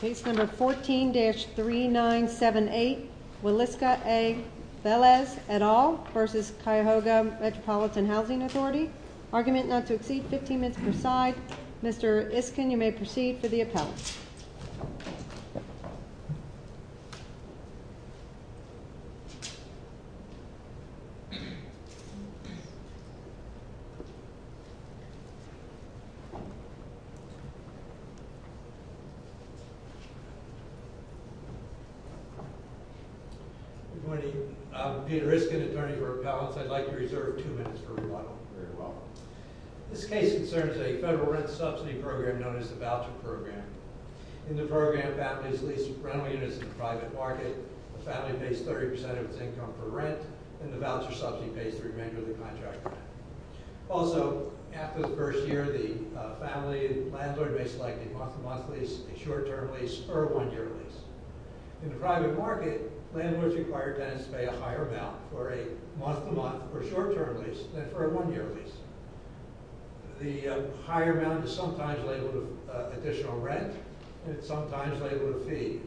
14-3978 Williska A. Velez, et al. v. Cuyahoga Metropolitan Housing Authority Argument not to exceed 15 minutes per side. Mr. Isken, you may proceed for the appellate. Good morning. I'm Peter Isken, attorney for appellants. I'd like to reserve two minutes for rebuttal. This case concerns a federal rent subsidy program known as the Voucher Program. In the program, families lease rental units in the private market, the family pays 30% of its income for rent, and the voucher subsidy pays the remainder of the contract. Also, after the first year, the family landlord may select a month-to-month lease, a short-term lease, or a one-year lease. In the private market, landlords require tenants to pay a higher amount for a month-to-month or short-term lease than for a one-year lease. The higher amount is sometimes labeled with additional rent, and it's sometimes labeled with a fee.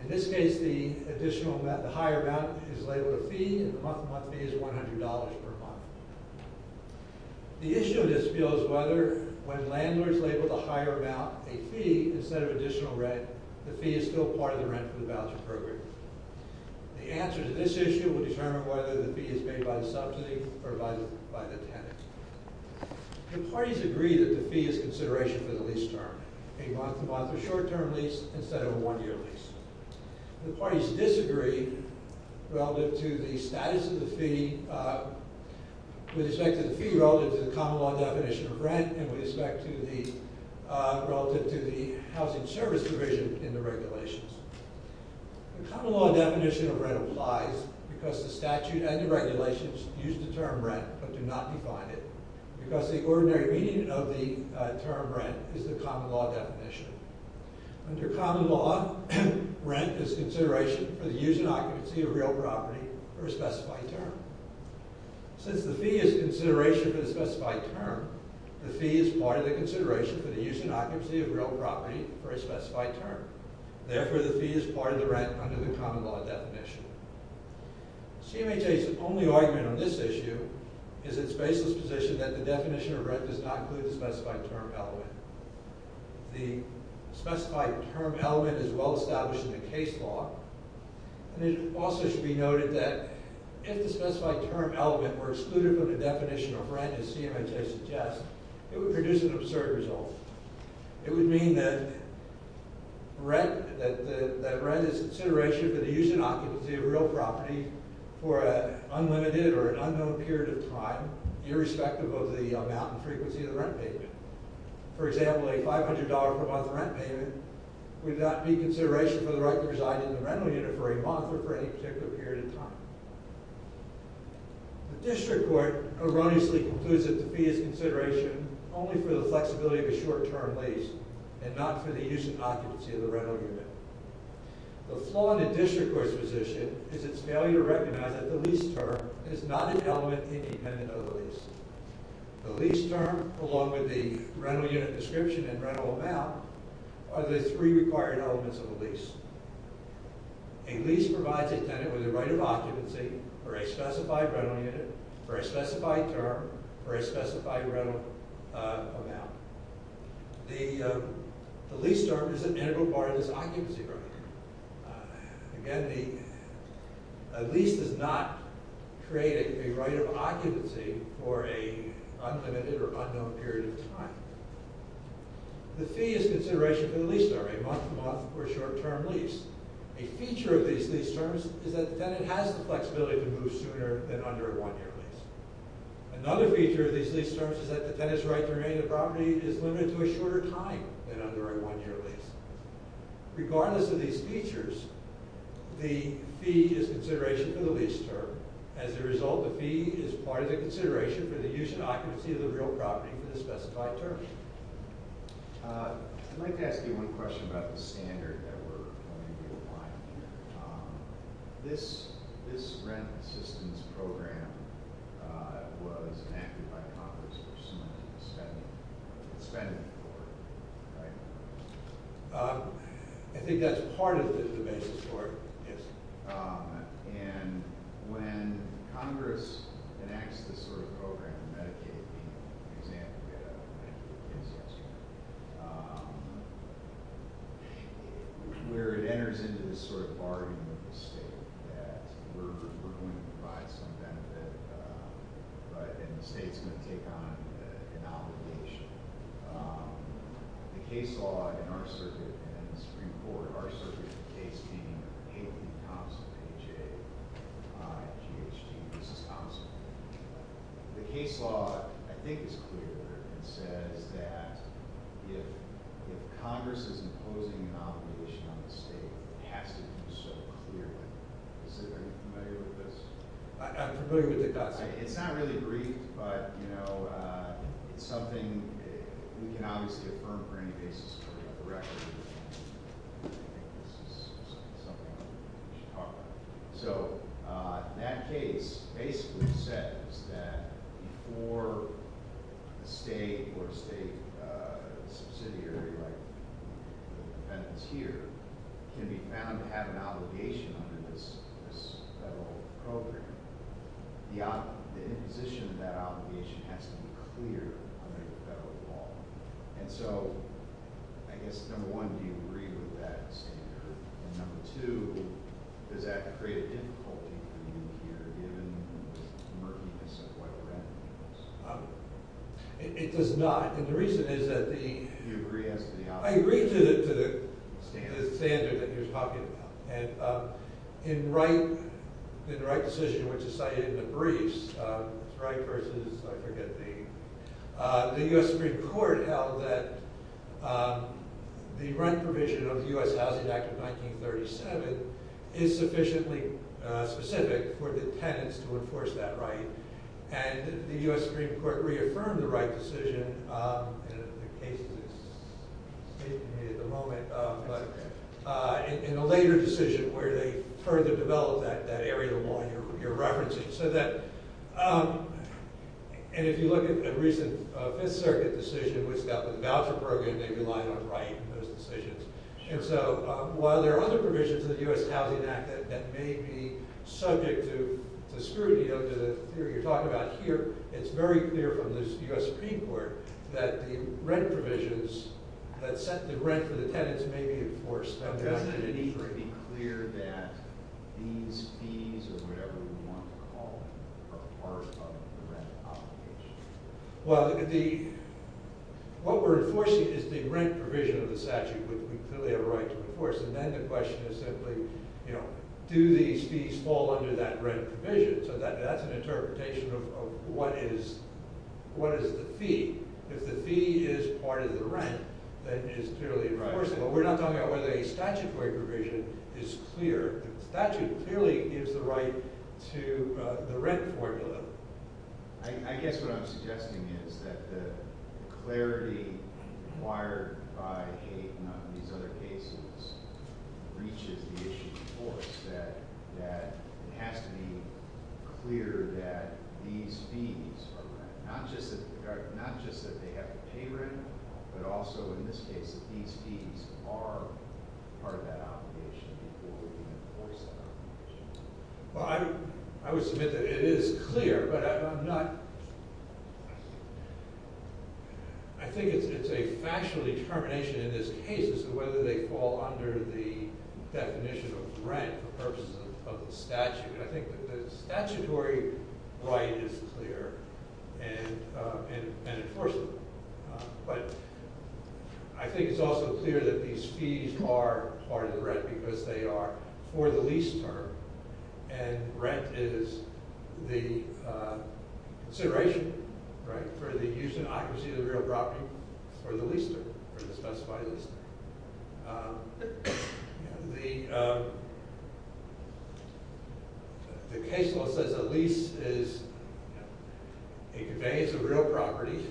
In this case, the higher amount is labeled a fee, and the month-to-month fee is $100 per month. The issue of this bill is whether, when landlords label the higher amount a fee instead of additional rent, the fee is still part of the rent for the voucher program. The answer to this issue will determine whether the fee is made by the subsidy or by the tenant. The parties agree that the fee is consideration for the lease term, a month-to-month or short-term lease instead of a one-year lease. The parties disagree with respect to the fee relative to the common law definition of rent and relative to the housing service provision in the regulations. The common law definition of rent applies because the statute and the regulations use the term rent but do not define it. Ordinary meaning of the term rent is the common law definition. Under common law, rent is consideration for the use and occupancy of real property for a specified term. Since the fee is consideration for a specified term, the fee is part of the consideration for the use and occupancy of real property for a specified term. Therefore, the fee is part of the rent under the common law definition. CMHA's only argument on this issue is its baseless position that the definition of rent does not include the specified term element. The specified term element is well established in the case law. And it also should be noted that if the specified term element were excluded from the definition of rent as CMHA suggests, it would produce an absurd result. It would mean that rent is consideration for the use and occupancy of real property for an unlimited or unknown period of time, irrespective of the amount and frequency of the rent payment. For example, a $500 per month rent payment would not be consideration for the right to reside in the rental unit for a month or for any particular period of time. The District Court erroneously concludes that the fee is consideration only for the flexibility of a short-term lease and not for the use and occupancy of the rental unit. The flaw in the District Court's position is its failure to recognize that the lease term is not an element independent of the lease. The lease term, along with the rental unit description and rental amount, are the three required elements of a lease. A lease provides a tenant with the right of occupancy for a specified rental unit, for a specified term, for a specified rental amount. The lease term is an integral part of this occupancy right. Again, a lease does not create a right of occupancy for an unlimited or unknown period of time. The fee is consideration for the lease term, a month-to-month or short-term lease. A feature of these lease terms is that the tenant has the flexibility to move sooner than under a one-year lease. Another feature of these lease terms is that the tenant's right to remain in the property is limited to a shorter time than under a one-year lease. Regardless of these features, the fee is consideration for the lease term. As a result, the fee is part of the consideration for the use and occupancy of the real property for the specified term. I'd like to ask you one question about the standard that we're going to be applying here. This rent assistance program was enacted by Congress for some money that was spent in the court, right? I think that's part of the basis for it, yes. When Congress enacts this sort of program, Medicaid being an example, where it enters into this sort of bargain with the state that we're going to provide some benefit, and the state's going to take on an obligation, the case law in our circuit, and in the Supreme Court, our circuit, the case being A.P. Thompson, A.J. G.H.G., Mrs. Thompson. The case law, I think, is clear and says that if Congress is imposing an obligation on the state, it has to be so clearly. Is everybody familiar with this? I'm familiar with it, yes. It's not really brief, but it's something we can obviously affirm for any basis of the record. I think this is something we should talk about. So that case basically says that before a state or state subsidiary like the defendants here can be found to have an obligation under this federal program, the imposition of that obligation has to be clear under the federal law. And so, I guess, number one, do you agree with that standard? And number two, does that create a difficulty for you here, given the murkiness of what we're asking for? It does not. And the reason is that the— Do you agree as to the obligation? I agree to the standard that you're talking about. In the Wright decision, which is cited in the briefs, Wright versus, I forget the— The U.S. Supreme Court held that the rent provision of the U.S. Housing Act of 1937 is sufficiently specific for the tenants to enforce that right. And the U.S. Supreme Court reaffirmed the Wright decision. And the case is hitting me at the moment. But in a later decision where they further develop that area of law you're referencing. So that—and if you look at a recent Fifth Circuit decision, which got the voucher program, they relied on Wright in those decisions. And so, while there are other provisions of the U.S. Housing Act that may be subject to scrutiny, you're talking about here, it's very clear from the U.S. Supreme Court that the rent provisions that set the rent for the tenants may be enforced. But doesn't it need to be clear that these fees, or whatever you want to call them, are part of the rent obligation? Well, the—what we're enforcing is the rent provision of the statute, which we clearly have a right to enforce. And then the question is simply, you know, do these fees fall under that rent provision? So that's an interpretation of what is the fee. If the fee is part of the rent, then it is clearly enforceable. We're not talking about whether a statutory provision is clear. The statute clearly gives the right to the rent formula. I guess what I'm suggesting is that the clarity acquired by Haight and these other cases reaches the issue before us, that it has to be clear that these fees are—not just that they have to pay rent, but also, in this case, that these fees are part of that obligation before we can enforce that obligation. Well, I would submit that it is clear, but I'm not— I think it's a factual determination in this case as to whether they fall under the definition of rent for purposes of the statute. I think that the statutory right is clear and enforceable. But I think it's also clear that these fees are part of the rent because they are for the lease term, and rent is the consideration for the use and occupancy of the real property for the lease term, for the specified lease term. The case law says a lease is—it conveys a real property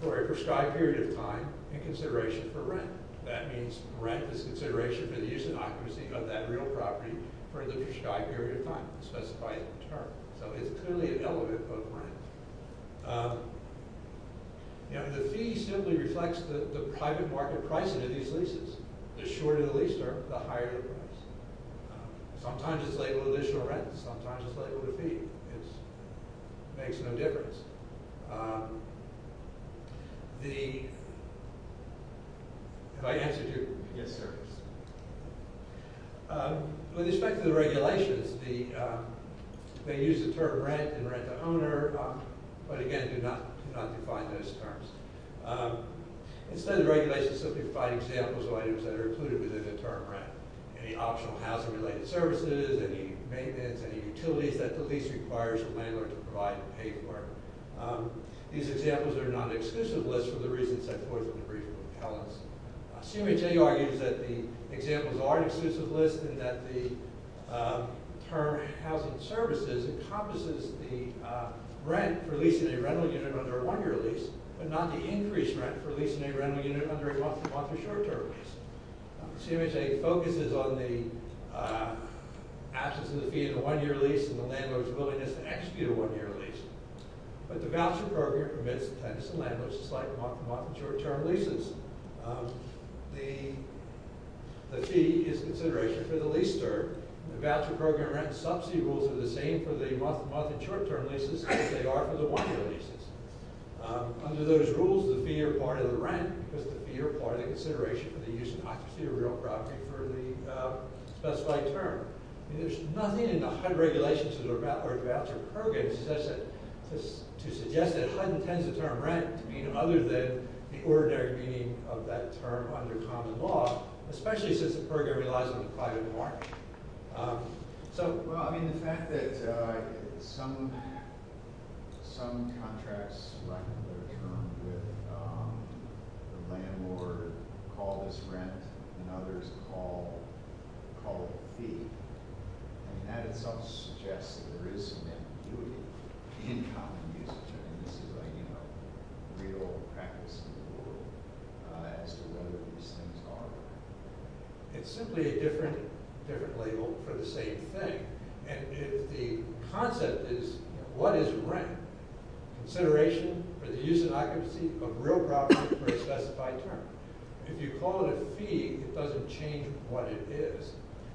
for a prescribed period of time in consideration for rent. That means rent is consideration for the use and occupancy of that real property for the prescribed period of time, the specified term. So it's clearly an element of rent. The fee simply reflects the private market price of these leases. The shorter the lease term, the higher the price. Sometimes it's labeled additional rent, and sometimes it's labeled a fee. It makes no difference. Have I answered you? Yes, sir. With respect to the regulations, they use the term rent and rent-to-owner, but again, do not define those terms. Instead, the regulations simply provide examples of items that are included within the term rent. Any optional housing-related services, any maintenance, any utilities that the lease requires the landlord to provide and pay for. These examples are not an exclusive list for the reasons set forth in the brief of appellants. CMHA argues that the examples are an exclusive list and that the term housing services encompasses the rent for leasing a rental unit under a one-year lease, but not the increased rent for leasing a rental unit under a month-to-month or short-term lease. CMHA focuses on the absence of the fee in a one-year lease and the landlord's willingness to execute a one-year lease. But the voucher program permits the tenants and landlords to slide from month-to-month and short-term leases. The fee is consideration for the leaser. The voucher program rent sub-fee rules are the same for the month-to-month and short-term leases as they are for the one-year leases. Under those rules, the fee are part of the rent because the fee are part of the consideration for the use and occupancy of real property for the specified term. There is nothing in the HUD regulations or voucher programs to suggest that HUD intends the term rent other than the ordinary meaning of that term under common law, especially since the program relies on the private market. So, well, I mean, the fact that some contracts in a regular term with the landlord call this rent and others call it fee, I mean, that itself suggests that there is some ambiguity in common usage. I mean, this is like, you know, real practice in the world as to whether these things are. It's simply a different label for the same thing. And if the concept is what is rent? Consideration for the use and occupancy of real property for a specified term. If you call it a fee, it doesn't change what it is.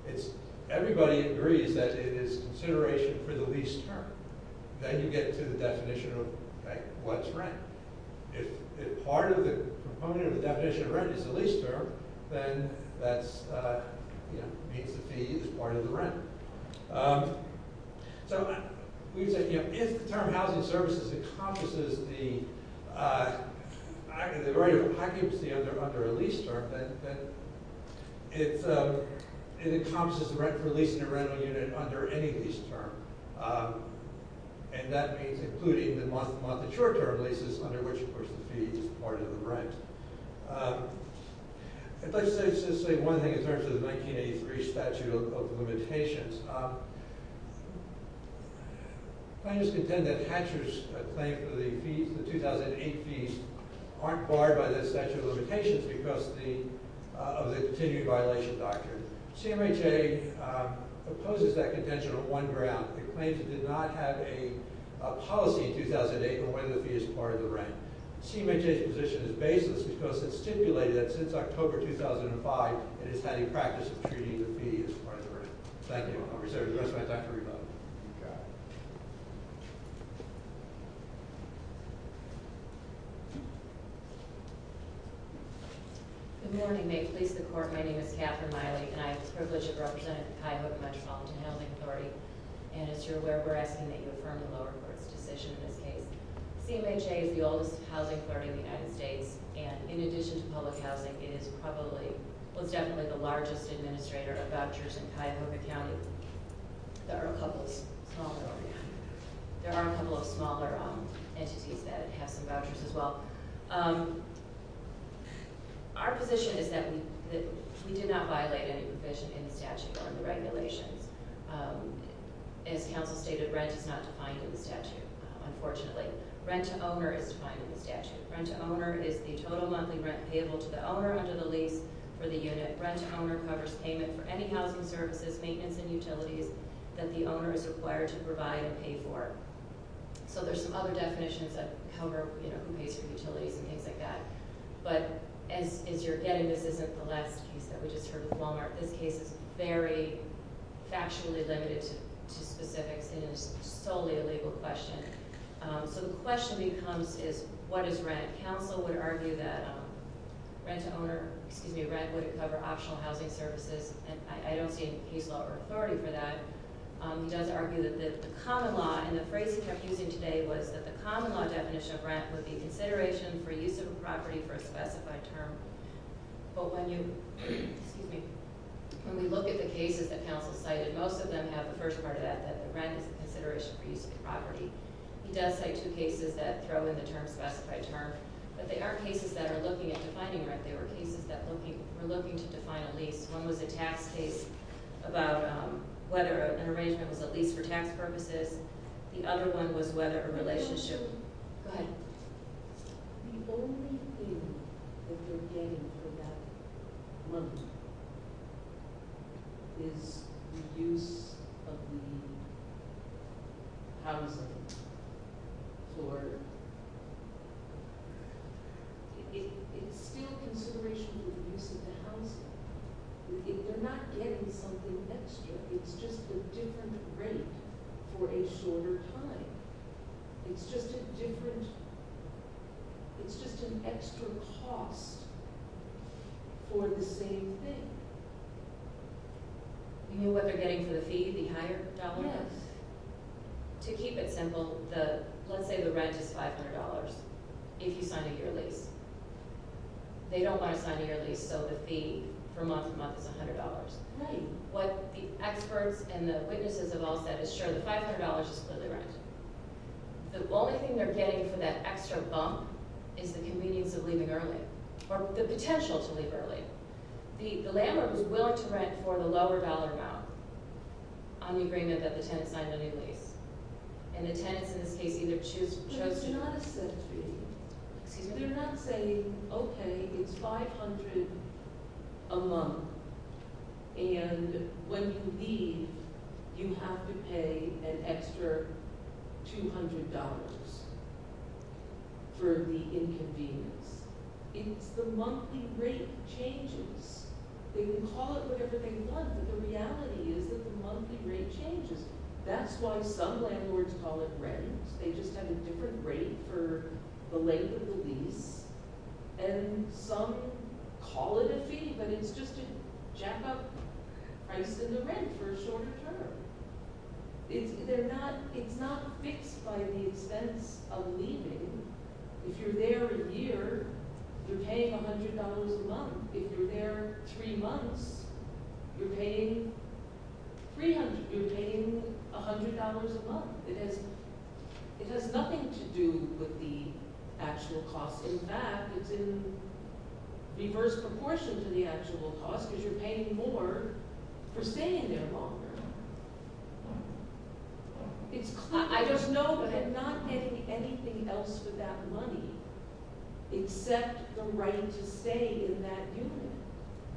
It's everybody agrees that it is consideration for the lease term. Then you get to the definition of what's rent. If part of the proponent of the definition of rent is the lease term, then that means the fee is part of the rent. So we can say, you know, if the term housing services encompasses the occupancy under a lease term, then it encompasses the rent for leasing a rental unit under any lease term. And that means including the month-to-month-to-short-term leases under which, of course, the fee is part of the rent. I'd like to say just one thing in terms of the 1983 statute of limitations. I just contend that Hatcher's claim for the 2008 fees aren't barred by the statute of limitations because of the continued violation doctrine. CMHA opposes that contention on one ground. It claims it did not have a policy in 2008 on whether the fee is part of the rent. CMHA's position is baseless because it stipulated that since October 2005, it has had a practice of treating the fee as part of the rent. Thank you. I'll reserve the rest of my time for rebuttal. Go ahead. Good morning. May it please the Court, my name is Catherine Miley, and I have the privilege of representing the Cuyahoga Metropolitan Housing Authority. And as you're aware, we're asking that you affirm the lower court's decision in this case. CMHA is the oldest housing authority in the United States, and in addition to public housing, it is probably – well, it's definitely the largest administrator of vouchers in Cuyahoga County. There are a couple of smaller entities that have some vouchers as well. Our position is that we did not violate any provision in the statute or in the regulations. As counsel stated, rent is not defined in the statute, unfortunately. Rent to owner is defined in the statute. Rent to owner is the total monthly rent payable to the owner under the lease for the unit. Rent to owner covers payment for any housing services, maintenance, and utilities that the owner is required to provide and pay for. So there's some other definitions that cover, you know, who pays for utilities and things like that. But as you're getting, this isn't the last case that we just heard with Walmart. This case is very factually limited to specifics and is solely a legal question. So the question becomes is, what is rent? Counsel would argue that rent to owner, excuse me, rent would cover optional housing services, and I don't see any case law or authority for that. He does argue that the common law, and the phrase he kept using today was that the common law definition of rent would be consideration for use of a property for a specified term. But when you, excuse me, when we look at the cases that counsel cited, most of them have the first part of that, that the rent is a consideration for use of the property. He does cite two cases that throw in the term specified term. But they aren't cases that are looking at defining rent. They were cases that were looking to define a lease. One was a tax case about whether an arrangement was a lease for tax purposes. The other one was whether a relationship. Go ahead. The only thing that they're getting for that money is the use of the housing for, it's still consideration for the use of the housing. They're not getting something extra. It's just a different rate for a shorter time. It's just a different, it's just an extra cost for the same thing. You mean what they're getting for the fee, the higher dollar? Yes. To keep it simple, let's say the rent is $500 if you sign a year lease. They don't want to sign a year lease so the fee for month to month is $100. Right. What the experts and the witnesses have all said is sure, the $500 is clearly rent. The only thing they're getting for that extra bump is the convenience of leaving early or the potential to leave early. The landlord was willing to rent for the lower dollar amount on the agreement that the tenant signed a new lease. And the tenants in this case either chose to. But it's not a set fee. Excuse me? But they're not saying, okay, it's $500 a month. And when you leave, you have to pay an extra $200 for the inconvenience. It's the monthly rate changes. They can call it whatever they want, but the reality is that the monthly rate changes. That's why some landlords call it rent. They just have a different rate for the length of the lease. And some call it a fee, but it's just a jack-up price in the rent for a shorter term. It's not fixed by the expense of leaving. If you're there a year, you're paying $100 a month. If you're there three months, you're paying $300. You're paying $100 a month. It has nothing to do with the actual cost. In fact, it's in reverse proportion to the actual cost because you're paying more for staying there longer. I just know that you're not getting anything else for that money except the right to stay in that unit.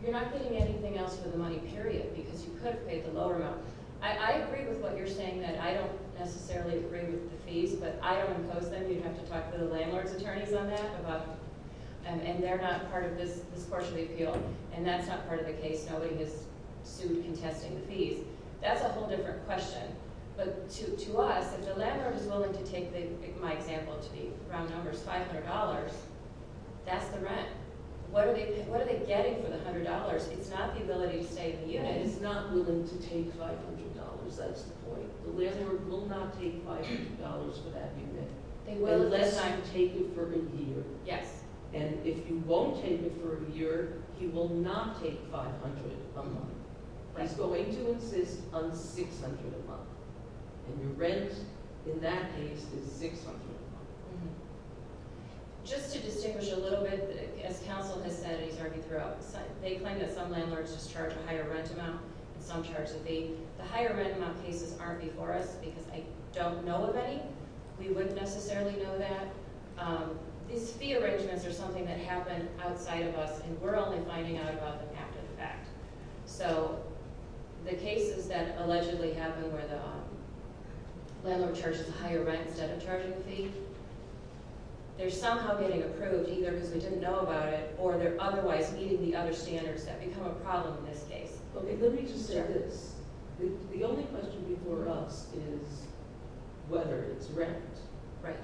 You're not getting anything else for the money, period, because you could have paid the lower amount. I agree with what you're saying that I don't necessarily agree with the fees, but I don't oppose them. You'd have to talk to the landlord's attorneys on that. And they're not part of this portion of the appeal, and that's not part of the case. Nobody has sued contesting the fees. That's a whole different question. But to us, if the landlord is willing to take my example to be round numbers, $500, that's the rent. What are they getting for the $100? It's not the ability to stay in the unit. The landlord is not willing to take $500. That's the point. The landlord will not take $500 for that unit unless I take it for a year. Yes. And if you won't take it for a year, he will not take $500 a month. He's going to insist on $600 a month, and your rent in that case is $600 a month. Just to distinguish a little bit, as counsel has said, and he's argued throughout, they claim that some landlords just charge a higher rent amount and some charge a fee. The higher rent amount cases aren't before us because I don't know of any. We wouldn't necessarily know that. These fee arrangements are something that happened outside of us, and we're only finding out about them after the fact. So the cases that allegedly happened where the landlord charges a higher rent instead of charging a fee, they're somehow getting approved either because we didn't know about it or they're otherwise meeting the other standards that become a problem in this case. Okay, let me just say this. The only question before us is whether it's rent. Right.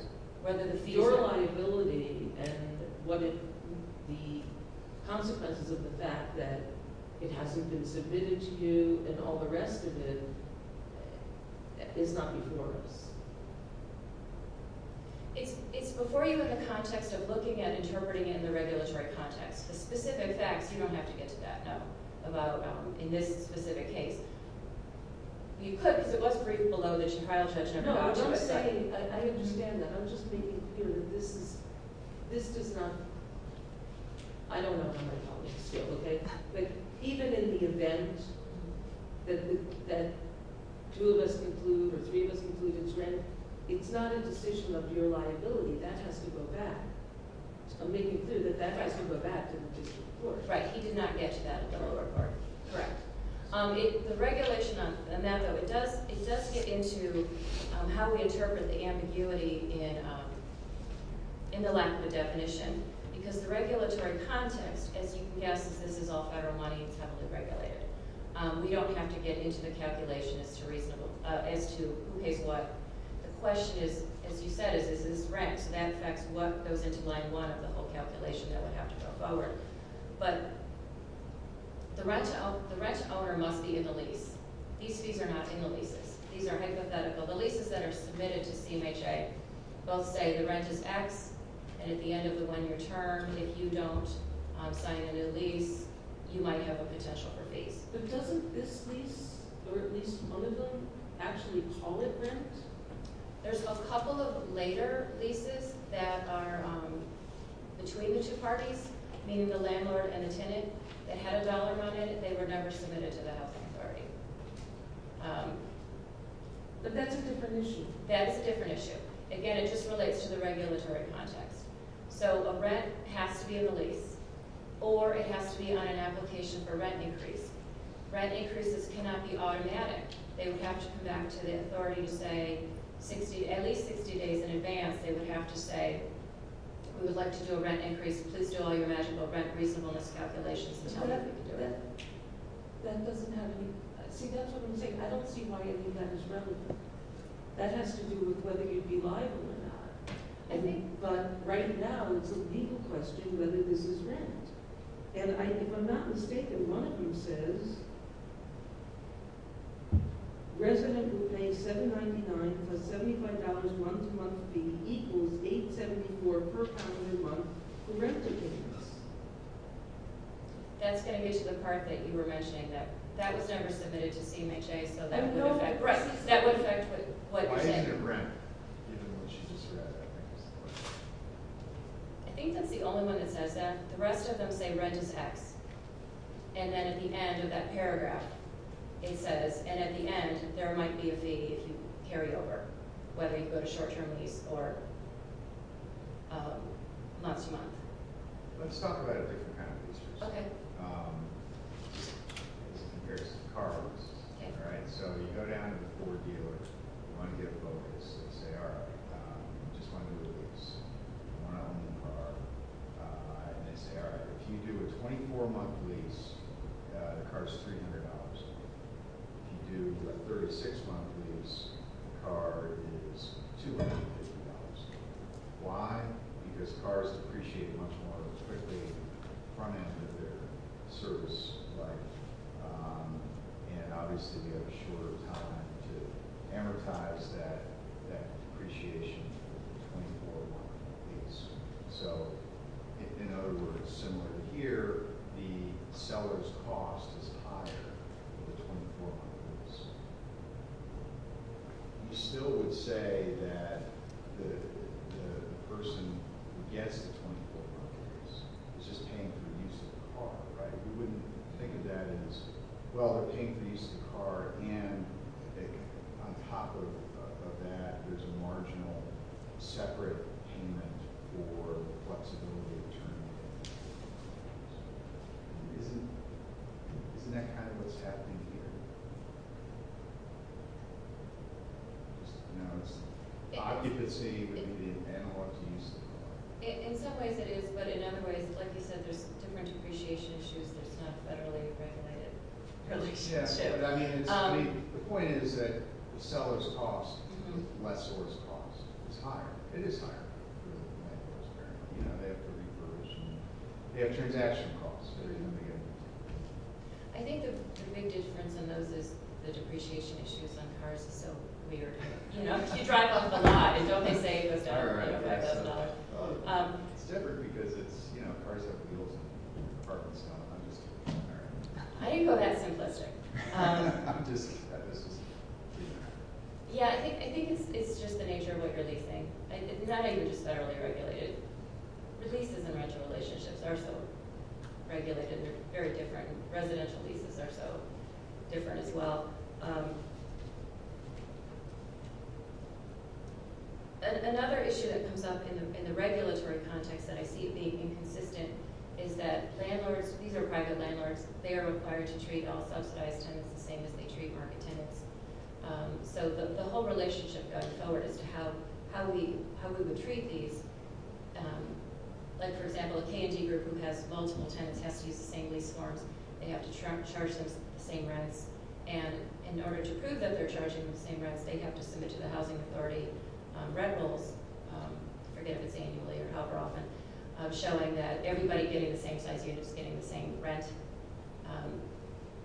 Your liability and the consequences of the fact that it hasn't been submitted to you and all the rest of it is not before us. It's before you in the context of looking at interpreting it in the regulatory context. The specific facts, you don't have to get to that, no, in this specific case. You could because it was briefed below that your trial judge never got to it. I understand that. I'm just making clear that this does not – I don't know how my colleagues feel, okay? But even in the event that two of us conclude or three of us conclude it's rent, it's not a decision of your liability. That has to go back. I'm making clear that that has to go back to the district court. Right, he did not get to that at the lower court. Correct. The regulation on that, though, it does get into how we interpret the ambiguity in the lack of a definition because the regulatory context, as you can guess, is this is all federal money. It's heavily regulated. We don't have to get into the calculation as to who pays what. The question is, as you said, is this rent? So that affects what goes into line one of the whole calculation that would have to go forward. But the rent owner must be in the lease. These fees are not in the leases. These are hypothetical. The leases that are submitted to CMHA both say the rent is X, and at the end of the one-year term, if you don't sign a new lease, you might have a potential for fees. But doesn't this lease or at least one of them actually call it rent? There's a couple of later leases that are between the two parties, meaning the landlord and the tenant, that had a dollar on it. They were never submitted to the housing authority. But that's a different issue. That's a different issue. Again, it just relates to the regulatory context. So a rent has to be in the lease, or it has to be on an application for rent increase. Rent increases cannot be automatic. They would have to come back to the authority to say, at least 60 days in advance, they would have to say, we would like to do a rent increase. Please do all your imaginable rent reasonableness calculations. See, that's what I'm saying. I don't see why I think that is relevant. That has to do with whether you'd be liable or not. But right now, it's a legal question whether this is rent. And if I'm not mistaken, one of them says, resident who pays $7.99 plus $75 once a month fee equals $8.74 per pound a month for rent increase. That's going to get you to the part that you were mentioning. That was never submitted to CMHA, so that would affect what you're saying. Why isn't it rent? I think that's the only one that says that. The rest of them say rent is X. And then at the end of that paragraph, it says, and at the end, there might be a fee if you carry over, whether you go to short-term lease or month-to-month. Let's talk about a different kind of lease. Okay. As it compares to car loans. Okay. All right, so you go down to the Ford dealer. You want to give a vote. They say, all right, I just want to do a lease. I want a new car. And they say, all right, if you do a 24-month lease, the car is $300. If you do a 36-month lease, the car is $250. Why? Because cars appreciate much more of the strictly front end of their service life. And obviously, we have a shorter time to amortize that appreciation for the 24-month lease. So, in other words, similar to here, the seller's cost is higher for the 24-month lease. You still would say that the person who gets the 24-month lease is just paying for the use of the car, right? You wouldn't think of that as, well, they're paying for the use of the car, and I think on top of that, there's a marginal separate payment for the flexibility of the term. Isn't that kind of what's happening here? Just, you know, it's occupancy, but you need an analog to use the car. In some ways it is, but in other ways, like you said, there's different depreciation issues. There's not a federally regulated relationship. Yes, but I mean, the point is that the seller's cost, the lessor's cost, is higher. It is higher. You know, they have to reimburse. They have transaction costs. I think the big difference in those is the depreciation issues on cars is so weird. You drive off the lot, and don't they say it goes down to $5,000? It's different because cars have wheels, and apartments don't. I didn't go that simplistic. Yeah, I think it's just the nature of what you're leasing. Not even just federally regulated. Leases and rental relationships are so regulated. They're very different. Residential leases are so different as well. Another issue that comes up in the regulatory context that I see being inconsistent is that these are private landlords. They are required to treat all subsidized tenants the same as they treat market tenants. So the whole relationship going forward as to how we would treat these, like, for example, a K&G group who has multiple tenants has to use the same lease forms. They have to charge them the same rents. In order to prove that they're charging them the same rents, they have to submit to the Housing Authority rent rules. I forget if it's annually or however often, showing that everybody getting the same size unit is getting the same rent.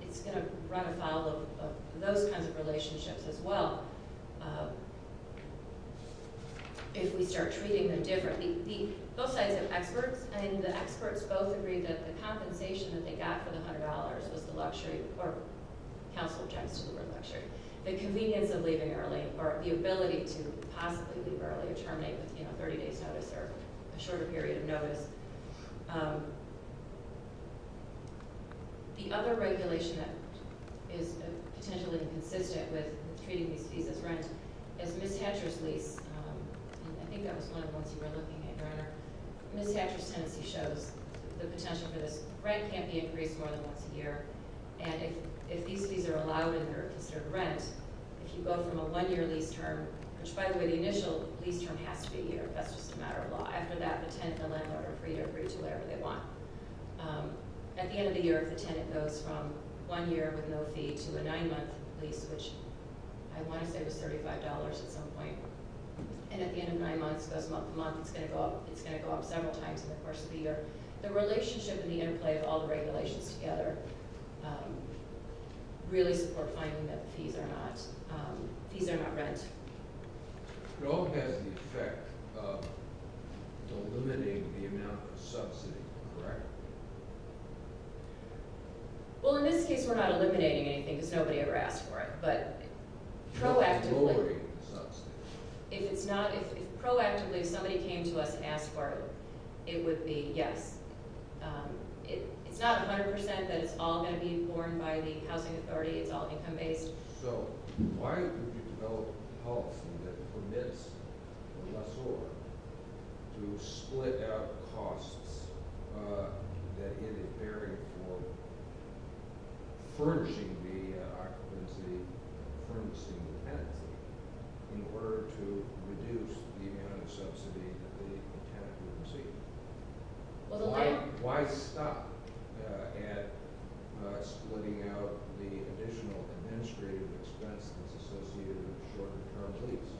It's going to run afoul of those kinds of relationships as well if we start treating them differently. Both sides have experts, and the experts both agree that the compensation that they got for the $100 was the luxury or counsel objects to the word luxury. The convenience of leaving early or the ability to possibly leave early or terminate within a 30-day notice or a shorter period of notice. The other regulation that is potentially inconsistent with treating these fees as rent is Miss Hatcher's lease. I think that was one of the ones you were looking at, Your Honor. Miss Hatcher's tenancy shows the potential for this. Rent can't be increased more than once a year, and if these fees are allowed and they're considered rent, if you go from a one-year lease term, which, by the way, the initial lease term has to be a year. That's just a matter of law. After that, the tenant and the landlord are free to agree to whatever they want. At the end of the year, if the tenant goes from one year with no fee to a nine-month lease, which I want to say was $35 at some point, and at the end of nine months goes month to month, it's going to go up several times in the course of the year, the relationship and the interplay of all the regulations together really support finding that the fees are not rent. It all has the effect of eliminating the amount of subsidy, correct? Well, in this case, we're not eliminating anything because nobody ever asked for it, but proactively... It's lowering the subsidy. If it's not, if proactively somebody came to us and asked for it, it would be yes. It's not 100% that it's all going to be informed by the housing authority. It's all income-based. So, why would you develop a policy that permits a lessor to split out costs that get a bearing for furnishing the occupancy, furnishing the tenancy, in order to reduce the amount of subsidy that the tenant would receive? Why stop at splitting out the additional administrative expense that's associated with a shorter-term lease?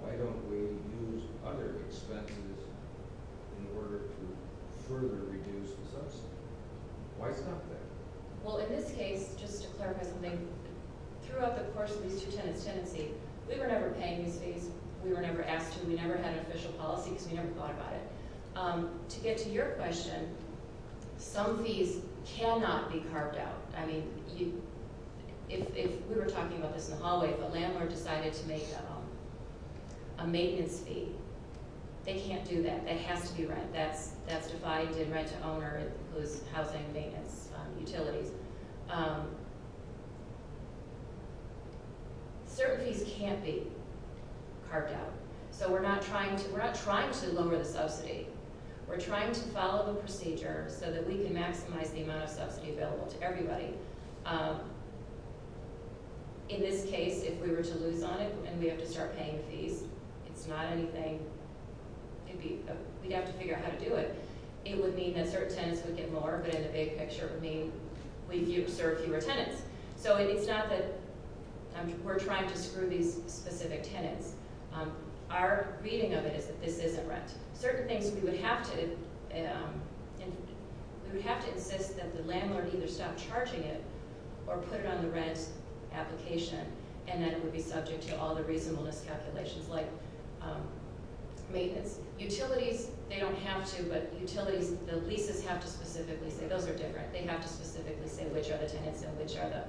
Why don't we use other expenses in order to further reduce the subsidy? Why stop there? Well, in this case, just to clarify something, throughout the course of these two tenants' tenancy, we were never paying these fees. We were never asked to. We never had an official policy because we never thought about it. To get to your question, some fees cannot be carved out. I mean, if we were talking about this in the hallway, if a landlord decided to make a maintenance fee, they can't do that. It has to be rent. That's defined in rent-to-owner-whose-housing-maintenance utilities. Certain fees can't be carved out. So we're not trying to lower the subsidy. We're trying to follow the procedure so that we can maximize the amount of subsidy available to everybody. In this case, if we were to lose on it and we have to start paying fees, it's not anything—we'd have to figure out how to do it. It would mean that certain tenants would get more, but in the big picture, it would mean we'd serve fewer tenants. So it's not that we're trying to screw these specific tenants. Our reading of it is that this isn't rent. Certain things we would have to— we would have to insist that the landlord either stop charging it or put it on the rent application, and then it would be subject to all the reasonableness calculations, like maintenance. Utilities, they don't have to, but utilities— the leases have to specifically say those are different. They have to specifically say which are the tenants and which are the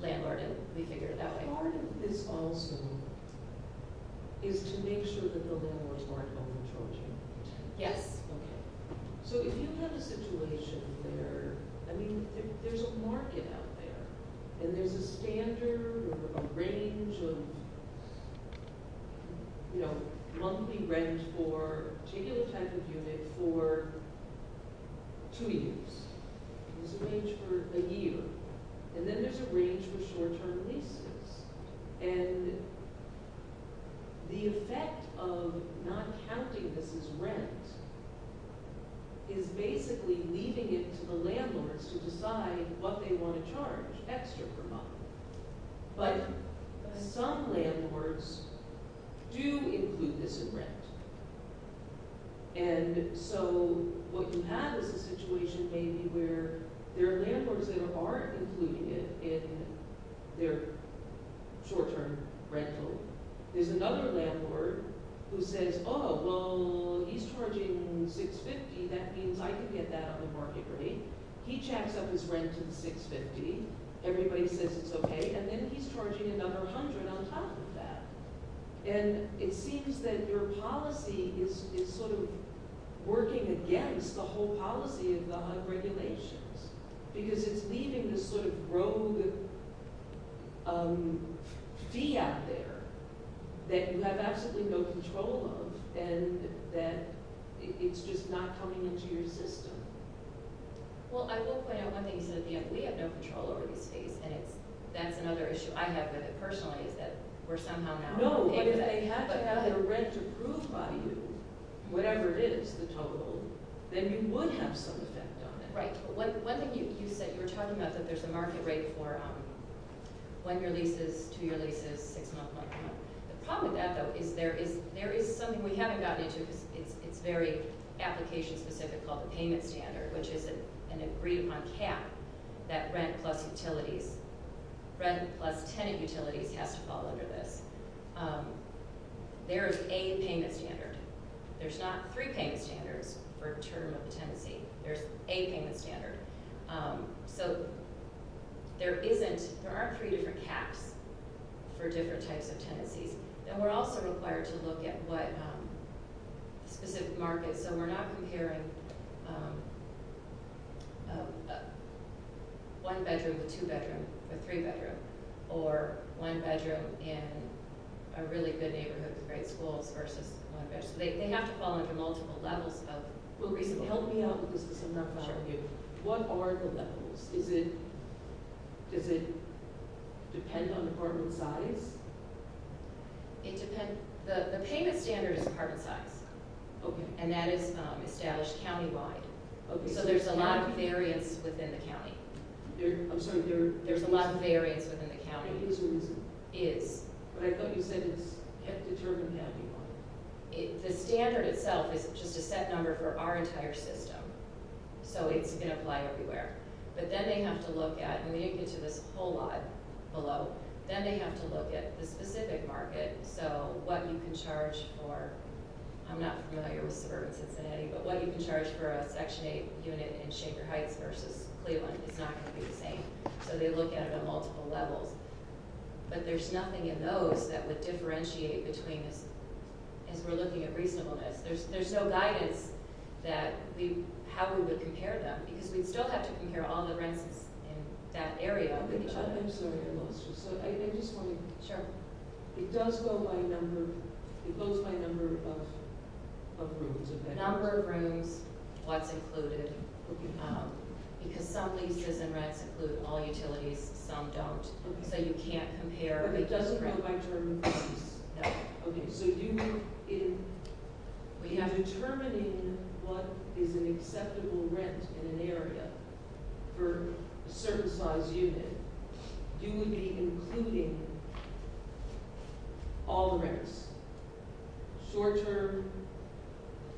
landlord, and we figure it that way. Part of this also is to make sure that the landlords aren't overcharging. Yes. So if you have a situation where— I mean, there's a market out there, and there's a standard or a range of, you know, a particular type of unit for two years. There's a range for a year, and then there's a range for short-term leases. And the effect of not counting this as rent is basically leaving it to the landlords to decide what they want to charge extra per month. But some landlords do include this in rent. And so what you have is a situation maybe where there are landlords that aren't including it in their short-term rental. There's another landlord who says, oh, well, he's charging $6.50. That means I can get that on the market rate. He jacks up his rent to $6.50. Everybody says it's okay. And then he's charging another $100 on top of that. And it seems that your policy is sort of working against the whole policy of the HUD regulations because it's leaving this sort of rogue fee out there that you have absolutely no control of and that it's just not coming into your system. Well, I will point out one thing. He said, you know, we have no control over these fees. And that's another issue I have with it personally is that we're somehow now paying them. No, but if they have to have their rent approved by you, whatever it is, the total, then you would have some effect on it. Right. One thing you said, you were talking about that there's a market rate for one-year leases, two-year leases, six-month, one-month. The problem with that, though, is there is something we haven't gotten into because it's very application-specific called the payment standard, which is an agreed-upon cap that rent plus utilities, rent plus tenant utilities has to fall under this. There is a payment standard. There's not three payment standards for a term of a tenancy. There's a payment standard. So there isn't, there aren't three different caps for different types of tenancies. And we're also required to look at what specific markets. So we're not comparing one-bedroom to two-bedroom or three-bedroom or one-bedroom in a really good neighborhood with great schools versus one-bedroom. They have to fall under multiple levels of reasonable. Help me out with this because I'm not following you. What are the levels? Does it depend on apartment size? It depends, the payment standard is apartment size. Okay. And that is established countywide. Okay. So there's a lot of variance within the county. I'm sorry. There's a lot of variance within the county. It is or isn't? It is. But I thought you said it's determined countywide. The standard itself is just a set number for our entire system. So it's going to apply everywhere. But then they have to look at, and we didn't get to this whole lot below, then they have to look at the specific market. So what you can charge for, I'm not familiar with suburban Cincinnati, but what you can charge for a Section 8 unit in Shanker Heights versus Cleveland is not going to be the same. So they look at it on multiple levels. But there's nothing in those that would differentiate between us as we're looking at reasonableness. There's no guidance that how we would compare them because we'd still have to compare all the rents in that area. I'm sorry. I just want to. Sure. It does go by number. It goes by number of rooms. Number of rooms, what's included. Because some leases and rents include all utilities, some don't. So you can't compare. But it doesn't go by term of lease? No. Okay. So in determining what is an acceptable rent in an area for a certain size unit, you would be including all the rents, short-term,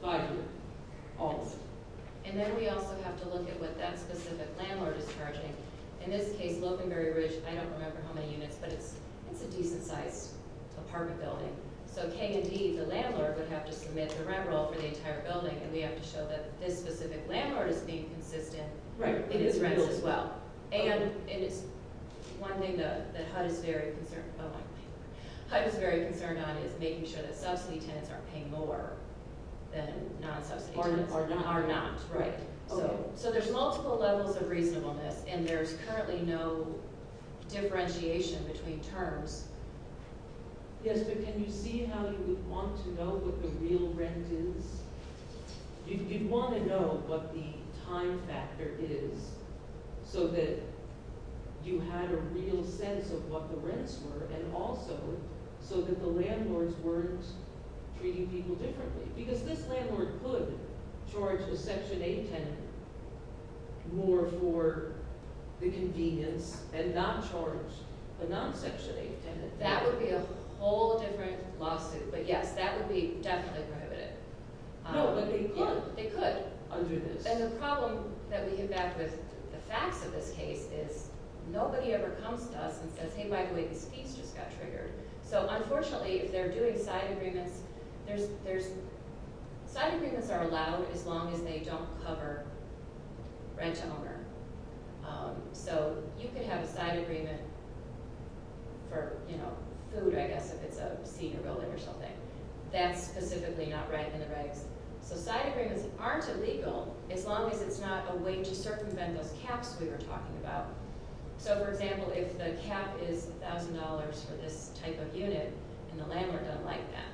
five-year, all of them. And then we also have to look at what that specific landlord is charging. In this case, Lopenberry Ridge, I don't remember how many units, but it's a decent-sized apartment building. So K&D, the landlord, would have to submit the rent roll for the entire building, and we have to show that this specific landlord is being consistent in his rents as well. And it's one thing that HUD is very concerned on is making sure that subsidy tenants aren't paying more than non-subsidy tenants. Are not. Are not, right. Okay. So there's multiple levels of reasonableness, and there's currently no differentiation between terms. Yes, but can you see how you would want to know what the real rent is? You'd want to know what the time factor is so that you had a real sense of what the rents were and also so that the landlords weren't treating people differently because this landlord could charge the Section 8 tenant more for the convenience and not charge the non-Section 8 tenant. That would be a whole different lawsuit. But yes, that would be definitely prohibited. No, but they could. They could. Under this. And the problem that we get back with the facts of this case is nobody ever comes to us and says, hey, by the way, this piece just got triggered. So unfortunately, if they're doing side agreements, side agreements are allowed as long as they don't cover rent to owner. So you could have a side agreement for, you know, food, I guess, if it's a senior building or something. That's specifically not right in the regs. So side agreements aren't illegal as long as it's not a way to circumvent those caps we were talking about. So, for example, if the cap is $1,000 for this type of unit and the landlord doesn't like that,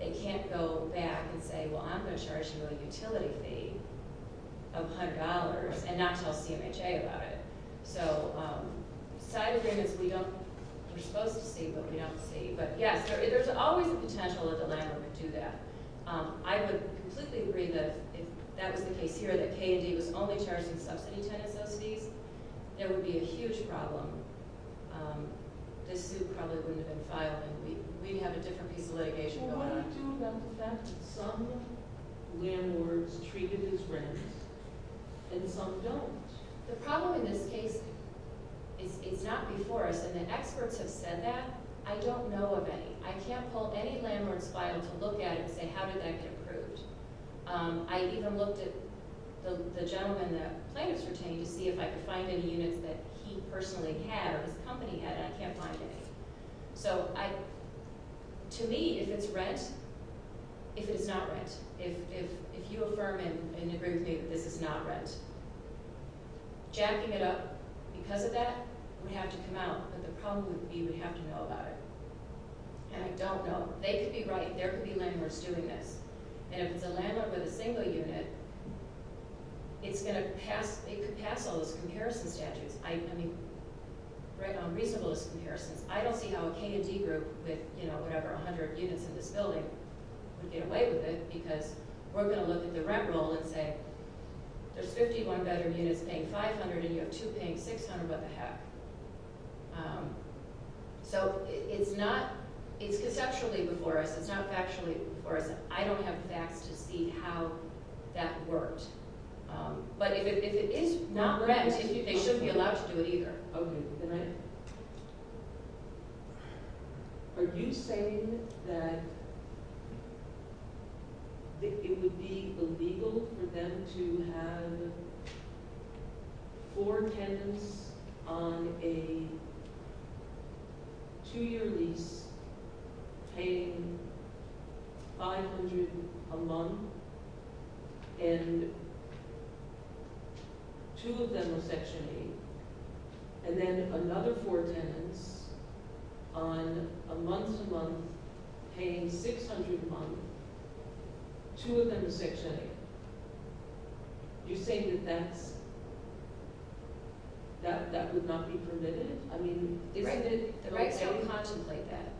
they can't go back and say, well, I'm going to charge you a utility fee of $100 and not tell CMHA about it. So side agreements we're supposed to see, but we don't see. But, yes, there's always the potential that the landlord would do that. I would completely agree that if that was the case here, that K&D was only charging subsidy to NSOCs, there would be a huge problem. This suit probably wouldn't have been filed and we'd have a different piece of litigation going on. Well, what do you do about the fact that some landlords treat it as rent and some don't? The problem in this case is it's not before us, and the experts have said that. I don't know of any. I can't pull any landlord's file to look at it and say, how did that get approved? I even looked at the gentleman the plaintiff's retaining to see if I could find any units that he personally had or his company had, and I can't find any. So to me, if it's rent, if it is not rent, if you affirm and agree with me that this is not rent, jacking it up because of that would have to come out, but the problem would be you would have to know about it. And I don't know. They could be right. There could be landlords doing this. And if it's a landlord with a single unit, it could pass all those comparison statutes. I mean, write down reasonable comparisons. I don't see how a K&D group with, you know, whatever, 100 units in this building would get away with it because we're going to look at the rent rule and say, there's 51 bedroom units paying $500, and you have two paying $600. What the heck? So it's conceptually before us. It's not factually before us. I don't have facts to see how that worked. But if it is not rent, they shouldn't be allowed to do it either. Okay. Can I? Are you saying that it would be illegal for them to have four tenants on a two-year lease paying $500 a month, and two of them are Section 8, and then another four tenants on a month-to-month paying $600 a month, two of them are Section 8? You're saying that that would not be permitted? I mean, isn't it? The regs don't contemplate that.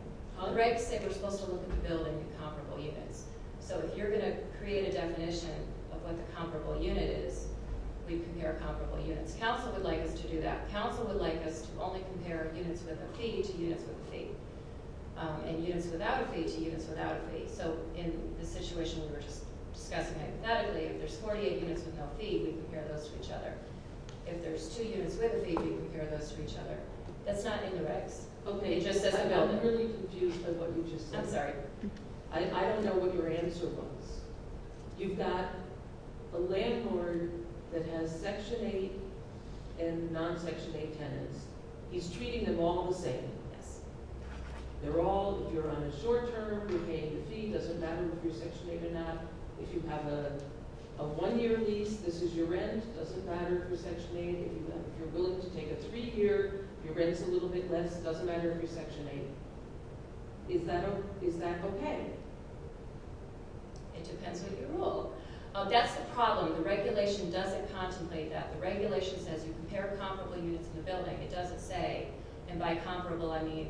Regs say we're supposed to look at the building in comparable units. So if you're going to create a definition of what the comparable unit is, we compare comparable units. Council would like us to do that. Council would like us to only compare units with a fee to units with a fee, and units without a fee to units without a fee. So in the situation we were just discussing hypothetically, if there's 48 units with no fee, we compare those to each other. If there's two units with a fee, we compare those to each other. That's not in the regs. Okay. I'm really confused with what you just said. I'm sorry. I don't know what your answer was. You've got a landlord that has Section 8 and non-Section 8 tenants. He's treating them all the same. Yes. They're all, if you're on a short term, you're paying the fee. It doesn't matter if you're Section 8 or not. If you have a one-year lease, this is your rent. It doesn't matter if you're Section 8. If you're willing to take a three-year, your rent's a little bit less. It doesn't matter if you're Section 8. Is that okay? It depends what you rule. That's the problem. The regulation doesn't contemplate that. The regulation says you compare comparable units in the building. It doesn't say, and by comparable I mean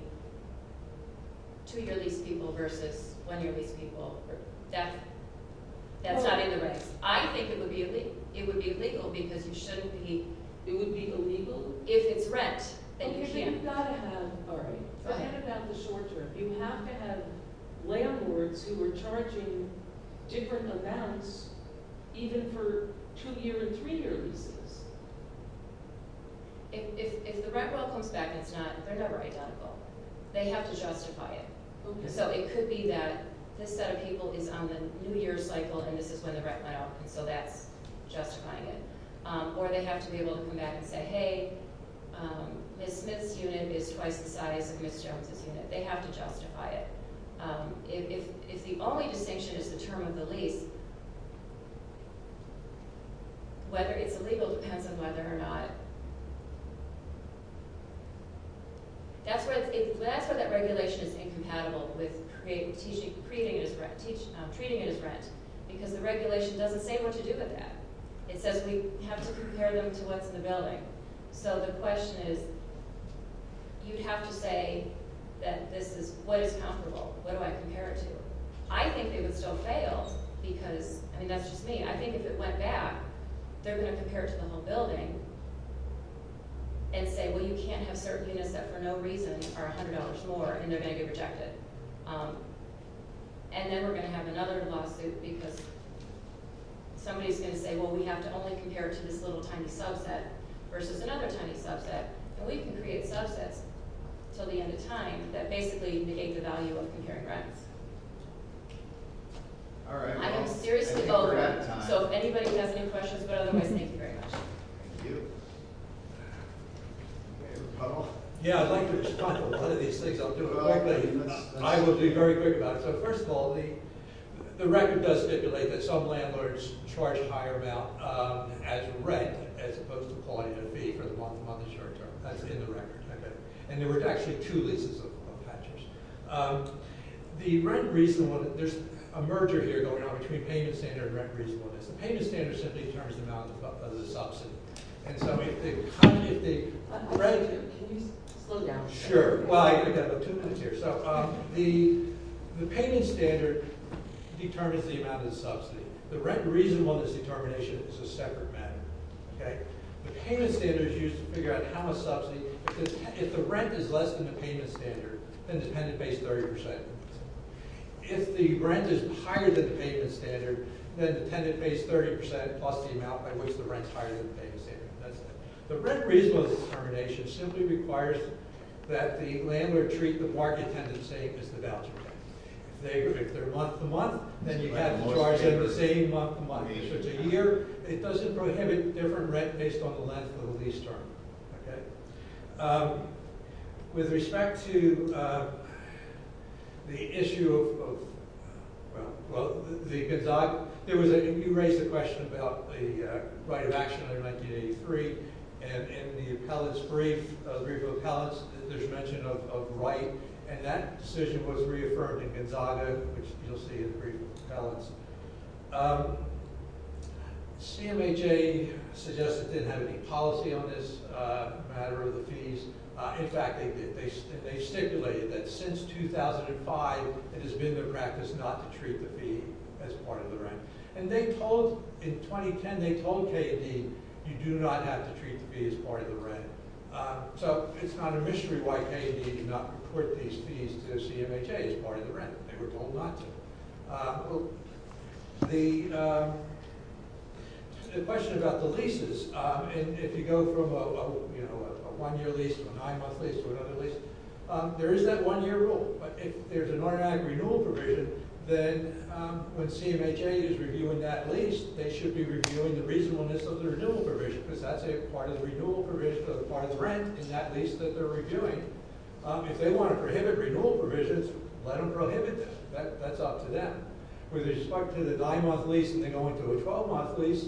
two-year lease people versus one-year lease people. That's not in the regs. I think it would be illegal because you shouldn't be. It would be illegal? If it's rent, then you can't. I think you've got to have authority. Think about the short term. You have to have landlords who are charging different amounts even for two-year and three-year leases. If the rent bill comes back, they're never identical. They have to justify it. It could be that this set of people is on the new year cycle, and this is when the rent went up, and so that's justifying it. Or they have to be able to come back and say, hey, Ms. Smith's unit is twice the size of Ms. Jones' unit. They have to justify it. If the only distinction is the term of the lease, whether it's illegal depends on whether or not. That's where that regulation is incompatible with treating it as rent because the regulation doesn't say what to do with that. It says we have to compare them to what's in the building. So the question is you'd have to say that this is what is comparable. What do I compare it to? I think they would still fail because, I mean, that's just me. I think if it went back, they're going to compare it to the whole building and say, well, you can't have certain units that for no reason are $100 more, and they're going to be rejected. And then we're going to have another lawsuit because somebody's going to say, well, we have to only compare it to this little tiny subset versus another tiny subset. And we can create subsets until the end of time that basically negate the value of comparing rents. I am seriously overwhelmed. So if anybody has any questions, but otherwise, thank you very much. Thank you. Yeah, I'd like to respond to one of these things. I'll do it quickly. I will be very quick about it. So first of all, the record does stipulate that some landlords charge higher amount as rent as opposed to quality of fee for the month-to-month and short-term. That's in the record. And there were actually two leases of patches. The rent reasonableness – there's a merger here going on between payment standard and rent reasonableness. The payment standard simply determines the amount of the subsidy. And so how do you think – Can you slow down? Sure. Well, I've got about two minutes here. So the payment standard determines the amount of the subsidy. The rent reasonableness determination is a separate matter. Okay? The payment standard is used to figure out how much subsidy – because if the rent is less than the payment standard, then the tenant pays 30%. If the rent is higher than the payment standard, then the tenant pays 30% plus the amount by which the rent is higher than the payment standard. That's it. The rent reasonableness determination simply requires that the landlord treat the market tenant the same as the voucher tenant. If they're month-to-month, then you have to charge them the same month-to-month. So it's a year. It doesn't prohibit different rent based on the length of the lease term. Okay? With respect to the issue of – well, the – there was a – you raised a question about the right of action in 1983. And in the appellant's brief, the brief of appellants, there's mention of right. And that decision was reaffirmed in Gonzaga, which you'll see in the brief of appellants. CMHA suggests it didn't have any policy on this matter of the fees. In fact, they stipulated that since 2005, it has been their practice not to treat the fee as part of the rent. And they told – in 2010, they told KAD, you do not have to treat the fee as part of the rent. So it's kind of a mystery why KAD did not put these fees to CMHA as part of the rent. They were told not to. The question about the leases, if you go from a one-year lease to a nine-month lease to another lease, there is that one-year rule. But if there's an automatic renewal provision, then when CMHA is reviewing that lease, they should be reviewing the reasonableness of the renewal provision because that's part of the rent in that lease that they're reviewing. If they want to prohibit renewal provisions, let them prohibit them. That's up to them. With respect to the nine-month lease and then going to a 12-month lease,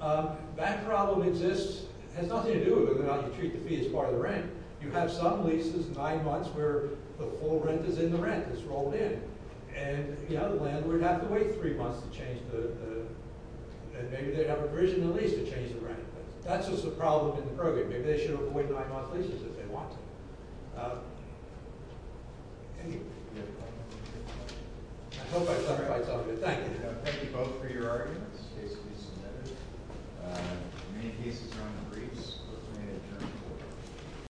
that problem exists. It has nothing to do with whether or not you treat the fee as part of the rent. You have some leases, nine months, where the full rent is in the rent. It's rolled in. And in the other land, we'd have to wait three months to change the – that's just a problem in the program. Maybe they should avoid nine-month leases if they want to. I hope I've clarified some of it. Thank you. Thank you both for your arguments. This case will be submitted. Many cases are on the briefs. We're going to adjourn.